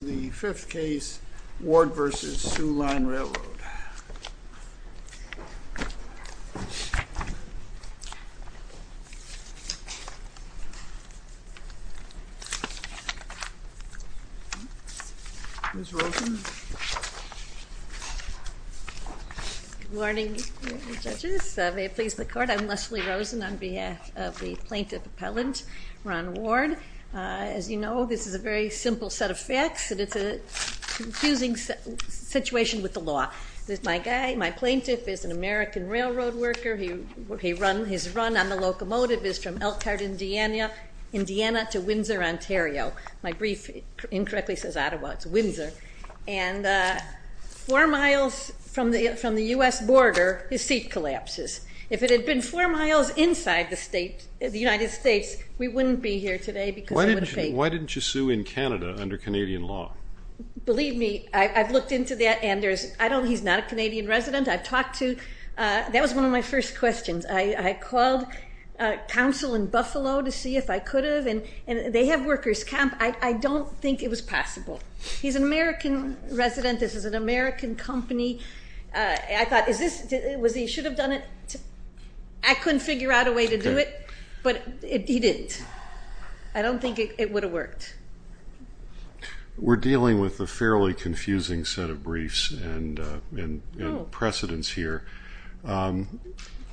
The 5th case, Ward v. Soo Line Railroad. Good morning, judges. May it please the court, I'm Leslie Rosen on behalf of the plaintiff appellant, Ron Ward. As you know, this is a very simple set of facts, and it's a confusing situation with the law. My guy, my plaintiff, is an American railroad worker. His run on the locomotive is from Elkhart, Indiana to Windsor, Ontario. My brief incorrectly says Ottawa, it's Windsor. And four miles from the U.S. border, his seat collapses. If it had been four miles inside the United States, we wouldn't be here today. Why didn't you sue in Canada under Canadian law? Believe me, I've looked into that. He's not a Canadian resident. That was one of my first questions. I called counsel in Buffalo to see if I could have, and they have workers' camp. I don't think it was possible. He's an American resident. This is an American company. I thought, is this, was he, should have done it? I couldn't figure out a way to do it, but he didn't. I don't think it would have worked. We're dealing with a fairly confusing set of briefs and precedents here.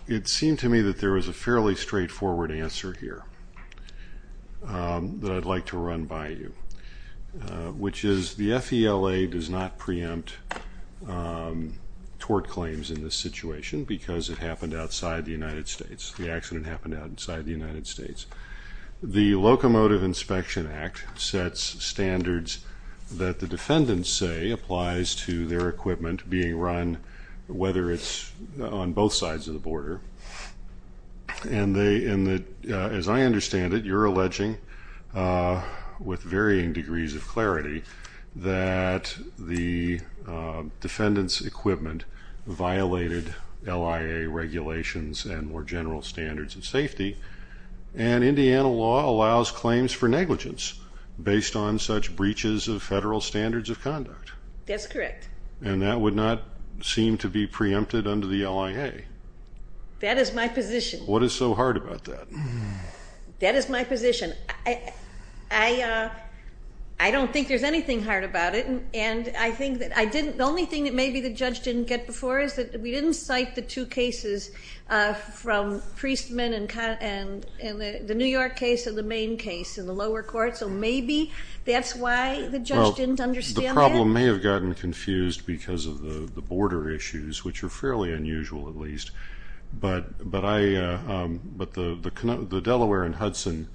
It seemed to me that there was a fairly straightforward answer here that I'd like to run by you, which is the FELA does not preempt tort claims in this situation because it happened outside the United States. The accident happened outside the United States. The Locomotive Inspection Act sets standards that the defendants say applies to their equipment being run, and as I understand it, you're alleging with varying degrees of clarity that the defendant's equipment violated LIA regulations and more general standards of safety, and Indiana law allows claims for negligence based on such breaches of federal standards of conduct. That's correct. And that would not seem to be preempted under the LIA. That is my position. What is so hard about that? That is my position. I don't think there's anything hard about it, and I think that I didn't, the only thing that maybe the judge didn't get before is that we didn't cite the two cases from Priestman and the New York case and the Maine case in the lower court, so maybe that's why the judge didn't understand that. People may have gotten confused because of the border issues, which are fairly unusual at least, but the Delaware and Hudson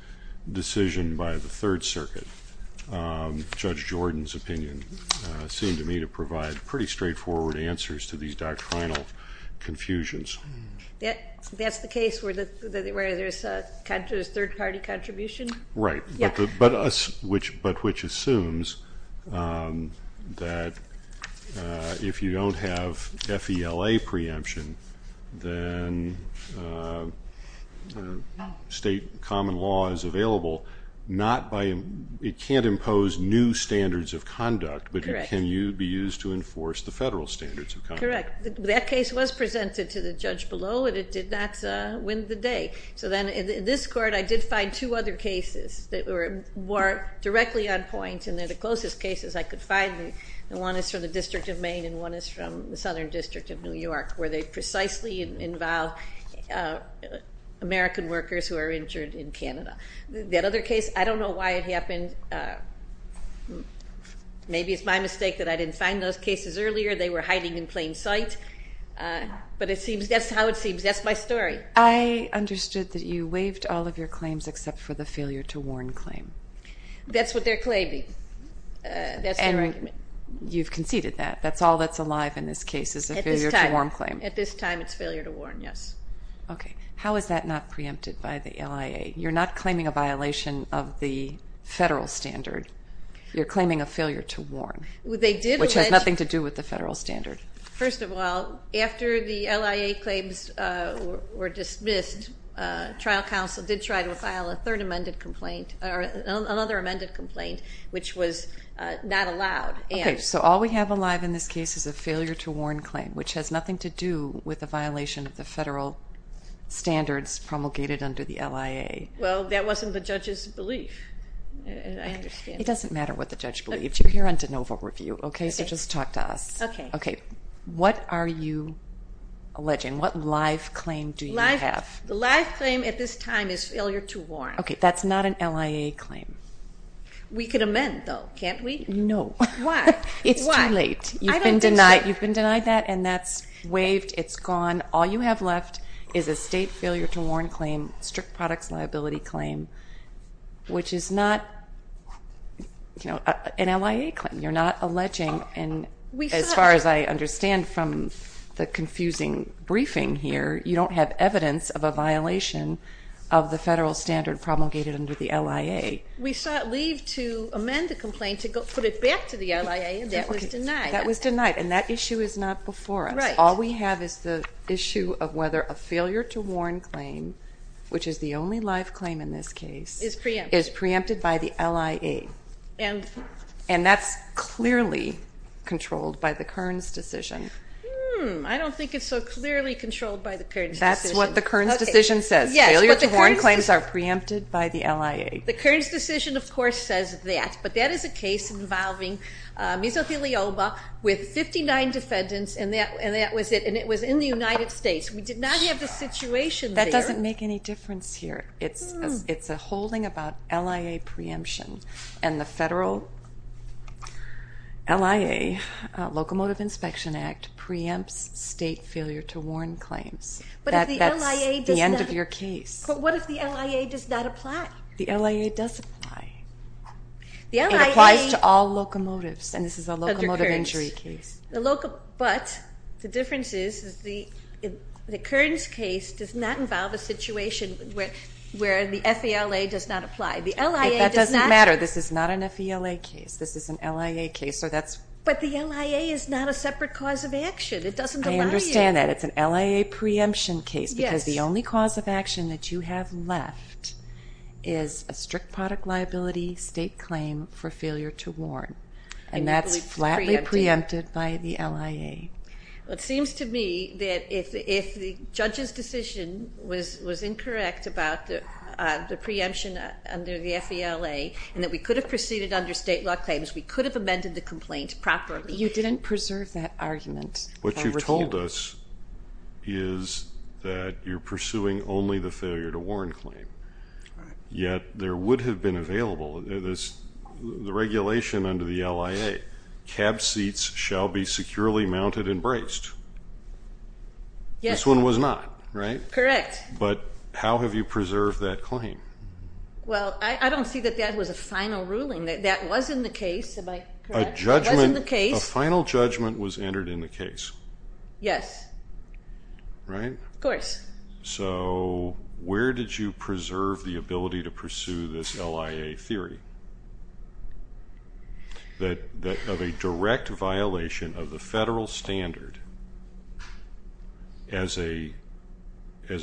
decision by the Third Circuit, Judge Jordan's opinion, seemed to me to provide pretty straightforward answers to these doctrinal confusions. That's the case where there's third-party contribution? Right, but which assumes that if you don't have FELA preemption, then state common law is available not by, it can't impose new standards of conduct, but it can be used to enforce the federal standards of conduct. Correct. That case was presented to the judge below, and it did not win the day. So then in this court, I did find two other cases that were more directly on point, and they're the closest cases I could find. One is from the District of Maine, and one is from the Southern District of New York, where they precisely involve American workers who are injured in Canada. That other case, I don't know why it happened. Maybe it's my mistake that I didn't find those cases earlier. They were hiding in plain sight, but that's how it seems. That's my story. I understood that you waived all of your claims except for the failure to warn claim. That's what they're claiming. That's their argument. You've conceded that. That's all that's alive in this case is a failure to warn claim. At this time, it's failure to warn, yes. Okay. How is that not preempted by the LIA? You're not claiming a violation of the federal standard. You're claiming a failure to warn, which has nothing to do with the federal standard. First of all, after the LIA claims were dismissed, trial counsel did try to file a third amended complaint, or another amended complaint, which was not allowed. Okay, so all we have alive in this case is a failure to warn claim, which has nothing to do with a violation of the federal standards promulgated under the LIA. Well, that wasn't the judge's belief. It doesn't matter what the judge believed. You're here on de novo review, so just talk to us. Okay. What are you alleging? What live claim do you have? The live claim at this time is failure to warn. Okay, that's not an LIA claim. We could amend, though, can't we? No. Why? It's too late. You've been denied that, and that's waived. It's gone. All you have left is a state failure to warn claim, strict products liability claim, which is not an LIA claim. You're not alleging, and as far as I understand from the confusing briefing here, you don't have evidence of a violation of the federal standard promulgated under the LIA. We sought leave to amend the complaint to put it back to the LIA, and that was denied. That was denied, and that issue is not before us. All we have is the issue of whether a failure to warn claim, which is the only live claim in this case, is preempted by the LIA. And that's clearly controlled by the Kearns decision. I don't think it's so clearly controlled by the Kearns decision. That's what the Kearns decision says. Failure to warn claims are preempted by the LIA. The Kearns decision, of course, says that, but that is a case involving mesothelioma with 59 defendants, and it was in the United States. We did not have the situation there. That doesn't make any difference here. It's a holding about LIA preemption, and the federal LIA, Locomotive Inspection Act, preempts state failure to warn claims. That's the end of your case. But what if the LIA does not apply? The LIA does apply. It applies to all locomotives, and this is a locomotive injury case. But the difference is the Kearns case does not involve a situation where the FELA does not apply. The LIA does not. That doesn't matter. This is not an FELA case. This is an LIA case. But the LIA is not a separate cause of action. It doesn't allow you. I understand that. It's an LIA preemption case because the only cause of action that you have left is a strict product liability state claim for failure to warn, and that's flatly preempted by the LIA. It seems to me that if the judge's decision was incorrect about the preemption under the FELA and that we could have proceeded under state law claims, we could have amended the complaint properly. You didn't preserve that argument. What you've told us is that you're pursuing only the failure to warn claim, yet there would have been available. The regulation under the LIA, cab seats shall be securely mounted and braced. Yes. This one was not, right? Correct. But how have you preserved that claim? Well, I don't see that that was a final ruling. That was in the case. Am I correct? It was in the case. A final judgment was entered in the case. Yes. Right? Of course. So where did you preserve the ability to pursue this LIA theory of a direct violation of the federal standard as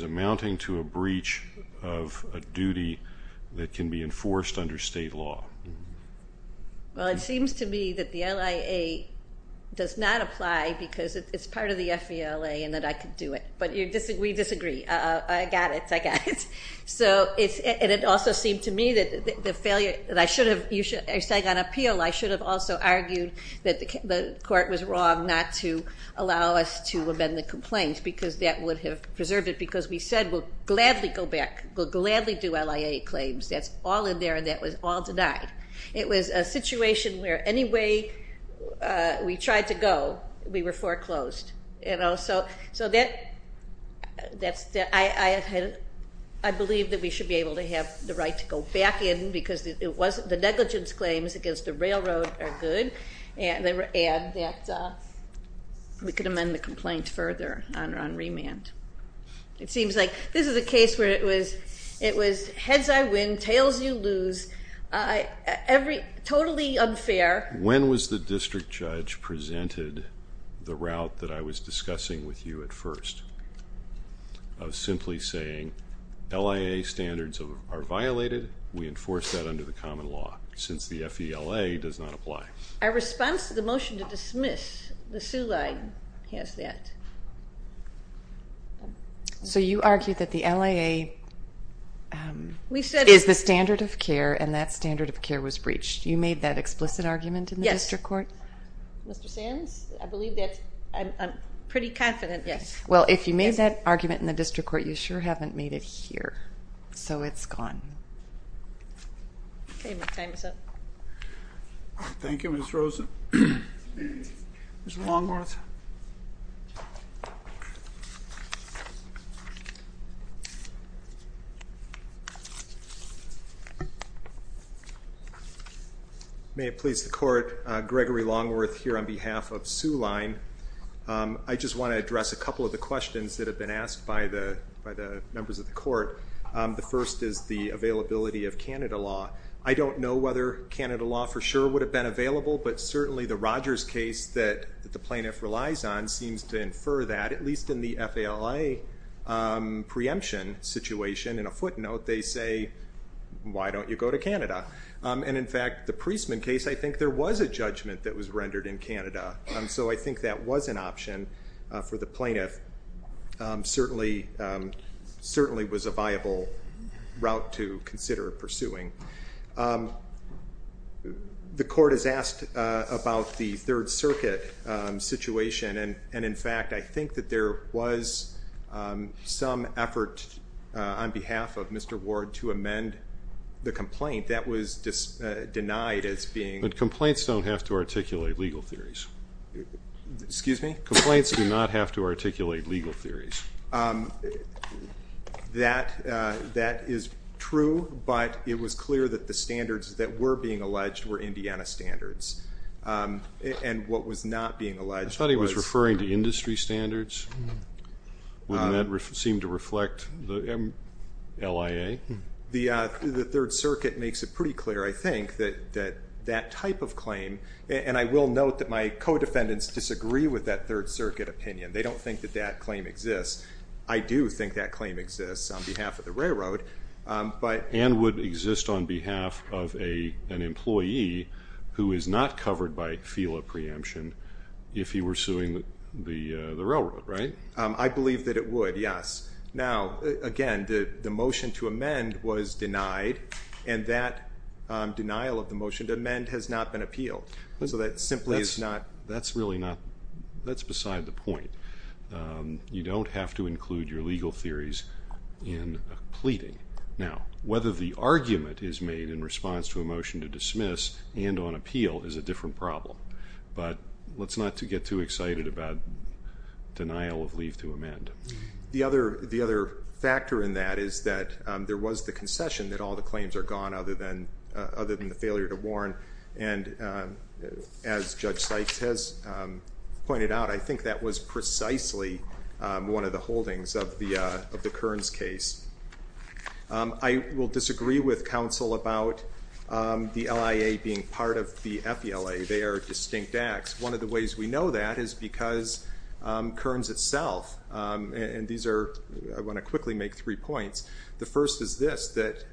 amounting to a breach of a duty that can be enforced under state law? Well, it seems to me that the LIA does not apply because it's part of the FELA and that I could do it. But we disagree. I got it. I got it. And it also seemed to me that the failure that you're saying on appeal, I should have also argued that the court was wrong not to allow us to amend the complaints because that would have preserved it because we said we'll gladly go back, we'll gladly do LIA claims. That's all in there and that was all denied. It was a situation where any way we tried to go, we were foreclosed. So I believe that we should be able to have the right to go back in because the negligence claims against the railroad are good and that we could amend the complaint further on remand. It seems like this is a case where it was heads I win, tails you lose, totally unfair. When was the district judge presented the route that I was discussing with you at first? I was simply saying LIA standards are violated. We enforce that under the common law since the FELA does not apply. Our response to the motion to dismiss, the SULA has that. So you argued that the LIA is the standard of care and that standard of care was breached. You made that explicit argument in the district court? Yes. Mr. Sands, I believe that. I'm pretty confident, yes. Well, if you made that argument in the district court, you sure haven't made it here, so it's gone. Okay, my time is up. Thank you, Ms. Rosen. Mr. Longworth. May it please the court, Gregory Longworth here on behalf of Soo Line. I just want to address a couple of the questions that have been asked by the members of the court. The first is the availability of Canada law. I don't know whether Canada law for sure would have been available, but certainly the Rogers case that the plaintiff relies on seems to infer that, at least in the FELA preemption situation. In a footnote, they say, why don't you go to Canada? And, in fact, the Priestman case, I think there was a judgment that was rendered in Canada. So I think that was an option for the plaintiff, certainly was a viable route to consider pursuing. The court has asked about the Third Circuit situation, and, in fact, I think that there was some effort on behalf of Mr. Ward to amend the complaint that was denied as being. But complaints don't have to articulate legal theories. Excuse me? Complaints do not have to articulate legal theories. That is true, but it was clear that the standards that were being alleged were Indiana standards. And what was not being alleged was. I thought he was referring to industry standards. Wouldn't that seem to reflect the LIA? The Third Circuit makes it pretty clear, I think, that that type of claim, and I will note that my co-defendants disagree with that Third Circuit opinion. They don't think that that claim exists. I do think that claim exists on behalf of the railroad. And would exist on behalf of an employee who is not covered by FELA preemption if he were suing the railroad, right? I believe that it would, yes. Now, again, the motion to amend was denied, and that denial of the motion to amend has not been appealed. So that simply is not. That's really not. That's beside the point. You don't have to include your legal theories in a pleading. Now, whether the argument is made in response to a motion to dismiss and on appeal is a different problem. But let's not get too excited about denial of leave to amend. The other factor in that is that there was the concession that all the claims are gone other than the failure to warn. And as Judge Sykes has pointed out, I think that was precisely one of the holdings of the Kearns case. I will disagree with counsel about the LIA being part of the FELA. They are distinct acts. One of the ways we know that is because Kearns itself, and these are, I want to quickly make three points. The first is this, that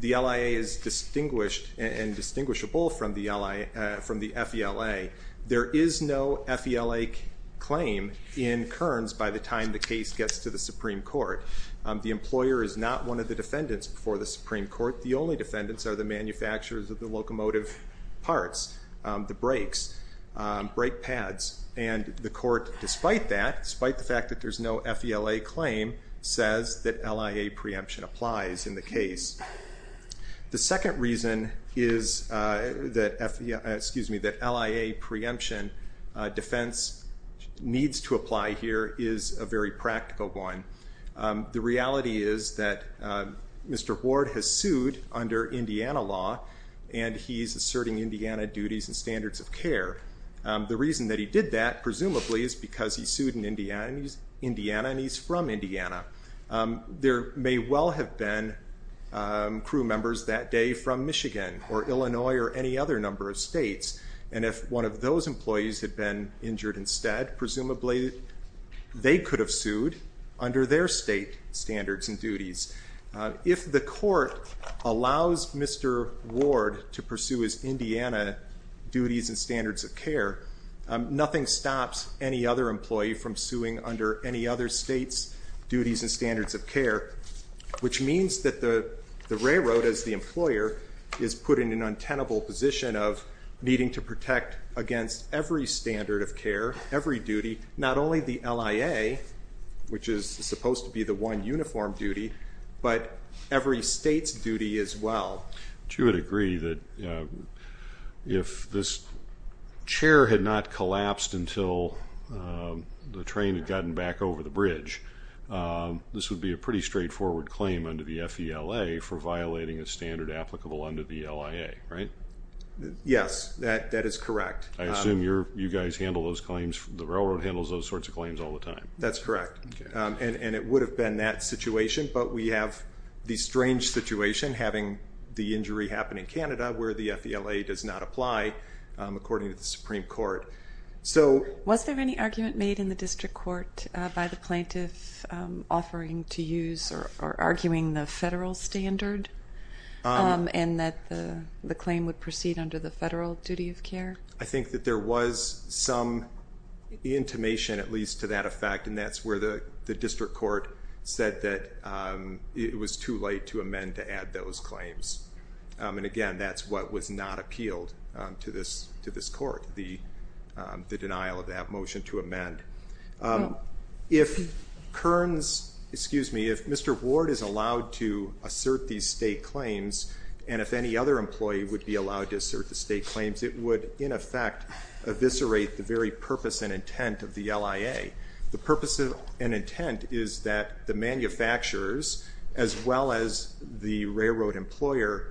the LIA is distinguished and distinguishable from the FELA. There is no FELA claim in Kearns by the time the case gets to the Supreme Court. The employer is not one of the defendants before the Supreme Court. The only defendants are the manufacturers of the locomotive parts, the brakes, brake pads. And the court, despite that, despite the fact that there's no FELA claim, says that LIA preemption applies in the case. The second reason is that LIA preemption defense needs to apply here is a very practical one. The reality is that Mr. Ward has sued under Indiana law, and he's asserting Indiana duties and standards of care. The reason that he did that, presumably, is because he sued in Indiana, and he's from Indiana. There may well have been crew members that day from Michigan or Illinois or any other number of states, and if one of those employees had been injured instead, presumably they could have sued under their state standards and duties. If the court allows Mr. Ward to pursue his Indiana duties and standards of care, nothing stops any other employee from suing under any other state's duties and standards of care, which means that the railroad, as the employer, is put in an untenable position of needing to protect against every standard of care, every duty, not only the LIA, which is supposed to be the one uniform duty, but every state's duty as well. But you would agree that if this chair had not collapsed until the train had gotten back over the bridge, this would be a pretty straightforward claim under the FELA for violating a standard applicable under the LIA, right? Yes, that is correct. I assume you guys handle those claims, the railroad handles those sorts of claims all the time. That's correct, and it would have been that situation, but we have the strange situation having the injury happen in Canada where the FELA does not apply according to the Supreme Court. Was there any argument made in the district court by the plaintiff offering to use or arguing the federal standard and that the claim would proceed under the federal duty of care? I think that there was some intimation, at least to that effect, and that's where the district court said that it was too late to amend to add those claims. And again, that's what was not appealed to this court, the denial of that motion to amend. If Mr. Ward is allowed to assert these state claims and if any other employee would be allowed to assert the state claims, it would, in effect, eviscerate the very purpose and intent of the LIA. The purpose and intent is that the manufacturers, as well as the railroad employer,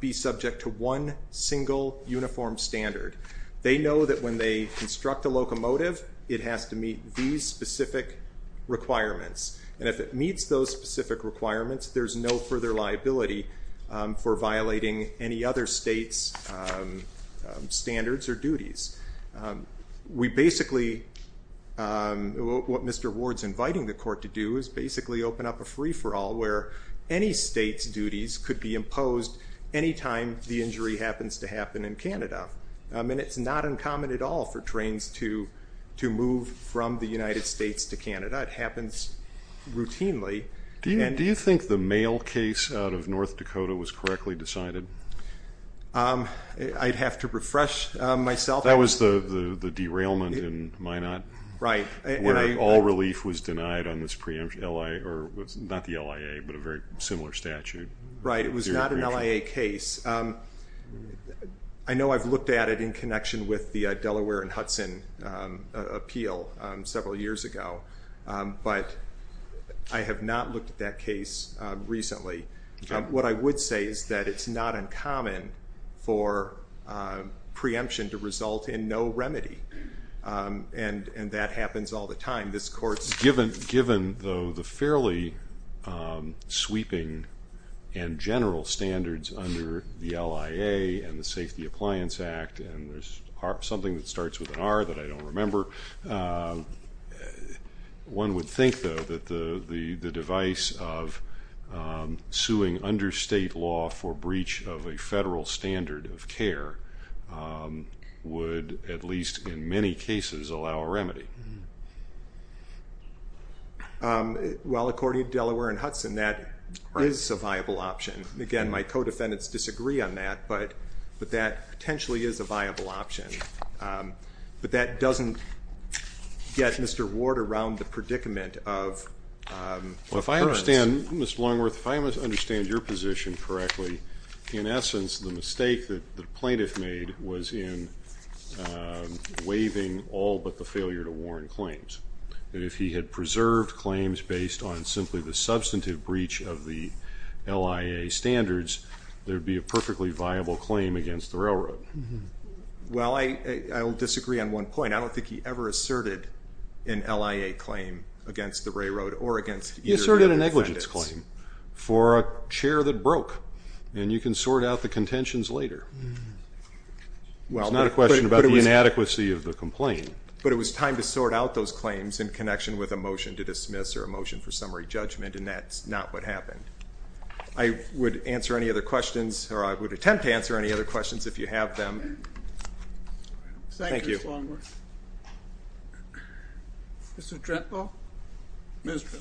be subject to one single uniform standard. They know that when they construct a locomotive, it has to meet these specific requirements, and if it meets those specific requirements, there's no further liability for violating any other state's standards or duties. We basically, what Mr. Ward's inviting the court to do is basically open up a free-for-all where any state's duties could be imposed any time the injury happens to happen in Canada. And it's not uncommon at all for trains to move from the United States to Canada. It happens routinely. Do you think the mail case out of North Dakota was correctly decided? I'd have to refresh myself. That was the derailment in Minot where all relief was denied on this preemption, not the LIA but a very similar statute. Right, it was not an LIA case. I know I've looked at it in connection with the Delaware and Hudson appeal several years ago, but I have not looked at that case recently. What I would say is that it's not uncommon for preemption to result in no remedy, and that happens all the time. This court's given, though, the fairly sweeping and general standards under the LIA and the Safety Appliance Act, and there's something that starts with an R that I don't remember. One would think, though, that the device of suing under state law for breach of a federal standard of care would at least in many cases allow a remedy. Well, according to Delaware and Hudson, that is a viable option. Again, my co-defendants disagree on that, but that potentially is a viable option. But that doesn't get Mr. Ward around the predicament of prevents. Well, if I understand, Mr. Longworth, if I understand your position correctly, in essence the mistake that the plaintiff made was in waiving all but the failure to warn claims, that if he had preserved claims based on simply the substantive breach of the LIA standards, there would be a perfectly viable claim against the railroad. Well, I will disagree on one point. I don't think he ever asserted an LIA claim against the railroad or against either of the defendants. He asserted a negligence claim for a chair that broke, and you can sort out the contentions later. It's not a question about the inadequacy of the complaint. But it was time to sort out those claims in connection with a motion to dismiss or a motion for summary judgment, and that's not what happened. I would answer any other questions, or I would attempt to answer any other questions if you have them. Thank you. Thank you, Mr. Longworth. Mr. Drentlaw? Mr. Drentlaw.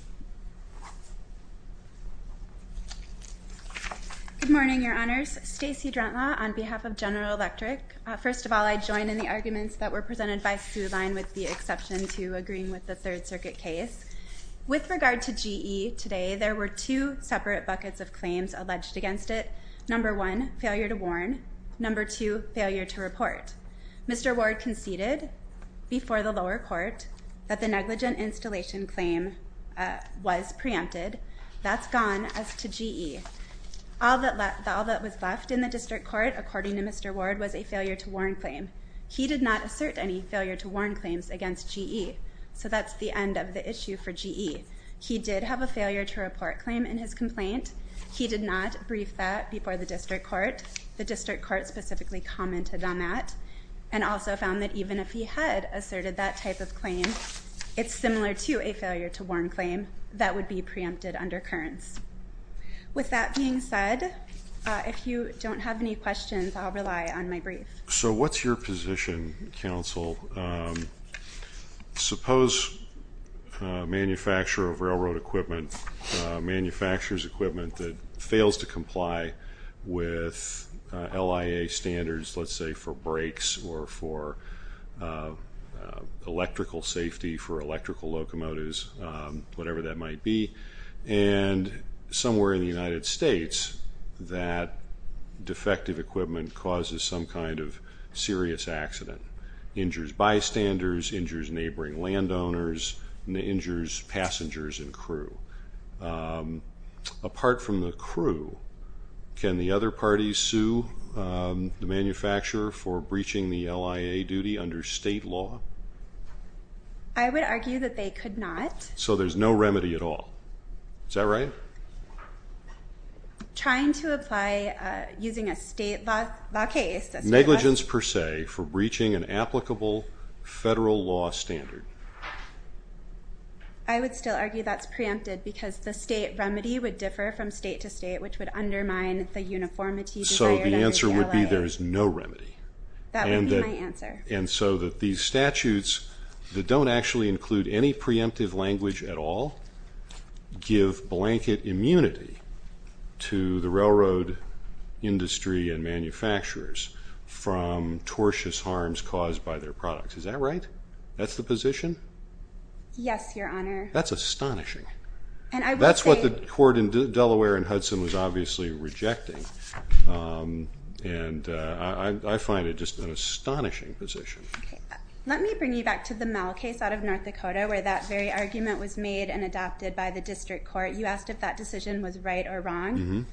Good morning, Your Honors. Stacey Drentlaw on behalf of General Electric. First of all, I join in the arguments that were presented by Sue Line, with the exception to agreeing with the Third Circuit case. With regard to GE today, there were two separate buckets of claims alleged against it. Number one, failure to warn. Number two, failure to report. Mr. Ward conceded before the lower court that the negligent installation claim was preempted. That's gone as to GE. All that was left in the district court, according to Mr. Ward, was a failure to warn claim. He did not assert any failure to warn claims against GE. So that's the end of the issue for GE. He did have a failure to report claim in his complaint. He did not brief that before the district court. The district court specifically commented on that, and also found that even if he had asserted that type of claim, it's similar to a failure to warn claim that would be preempted under currents. With that being said, if you don't have any questions, I'll rely on my brief. So what's your position, counsel? Suppose a manufacturer of railroad equipment, a manufacturer's equipment that fails to comply with LIA standards, let's say for brakes or for electrical safety, for electrical locomotives, whatever that might be, and somewhere in the United States that defective equipment causes some kind of serious accident, injures bystanders, injures neighboring landowners, injures passengers and crew. Apart from the crew, can the other parties sue the manufacturer for breaching the LIA duty under state law? I would argue that they could not. So there's no remedy at all. Is that right? Trying to apply using a state law case. Negligence per se for breaching an applicable federal law standard. I would still argue that's preempted because the state remedy would differ from state to state, which would undermine the uniformity desired under the LIA. So the answer would be there is no remedy. That would be my answer. And so that these statutes that don't actually include any preemptive language at all give blanket immunity to the railroad industry and manufacturers from tortuous harms caused by their products. Is that right? That's the position? Yes, Your Honor. That's astonishing. That's what the court in Delaware and Hudson was obviously rejecting, and I find it just an astonishing position. Let me bring you back to the Mel case out of North Dakota where that very argument was made and adopted by the district court. You asked if that decision was right or wrong.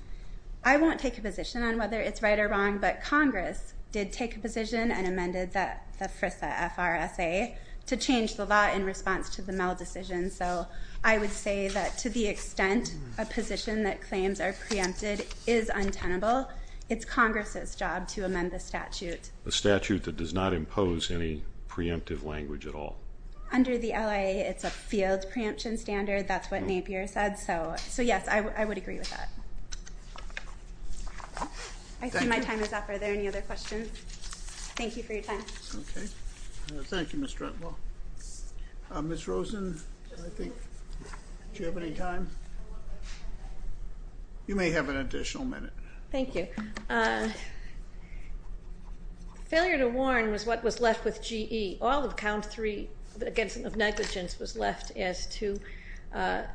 I won't take a position on whether it's right or wrong, but Congress did take a position and amended the FRSA to change the law in response to the Mel decision. So I would say that to the extent a position that claims are preempted is untenable, it's Congress's job to amend the statute. A statute that does not impose any preemptive language at all. Under the LIA, it's a field preemption standard. That's what Napier said. So, yes, I would agree with that. I see my time is up. Are there any other questions? Thank you for your time. Okay. Thank you, Ms. Drenthal. Ms. Rosen, do you have any time? You may have an additional minute. Thank you. Failure to warn was what was left with GE. All of count three, again, of negligence was left as to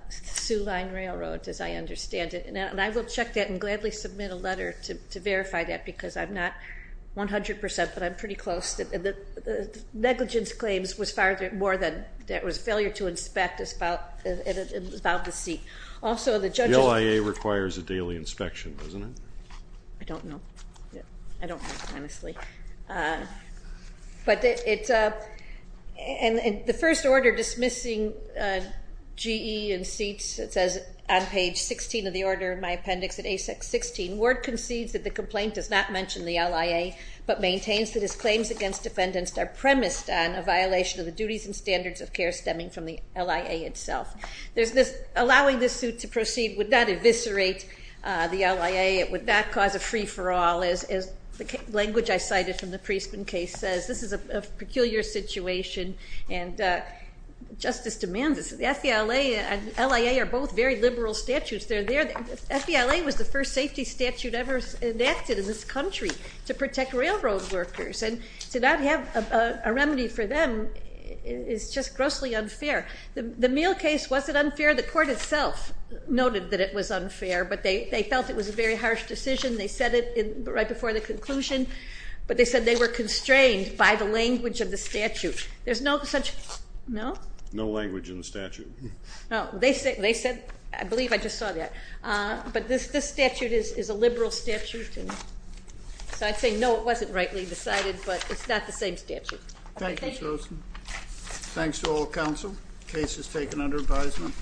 Sioux Line Railroad, as I understand it. And I will check that and gladly submit a letter to verify that because I'm not 100%, but I'm pretty close. The negligence claims was more than that. It was a failure to inspect about the seat. The LIA requires a daily inspection, doesn't it? I don't know. I don't know, honestly. And the first order dismissing GE and seats, it says on page 16 of the order in my appendix at ASEC 16, Ward concedes that the complaint does not mention the LIA, but maintains that his claims against defendants are premised on a violation of the duties and standards of care stemming from the LIA itself. Allowing this suit to proceed would not eviscerate the LIA. It would not cause a free-for-all, as the language I cited from the Priestman case says. This is a peculiar situation, and justice demands it. The FDLA and LIA are both very liberal statutes. They're there. The FDLA was the first safety statute ever enacted in this country to protect railroad workers, and to not have a remedy for them is just grossly unfair. The meal case wasn't unfair. The court itself noted that it was unfair, but they felt it was a very harsh decision. They said it right before the conclusion, but they said they were constrained by the language of the statute. There's no such no? No language in the statute. No. They said, I believe I just saw that. But this statute is a liberal statute, and so I'd say no, it wasn't rightly decided, but it's not the same statute. Thank you, Susan. Thanks to all counsel. The case is taken under advisement.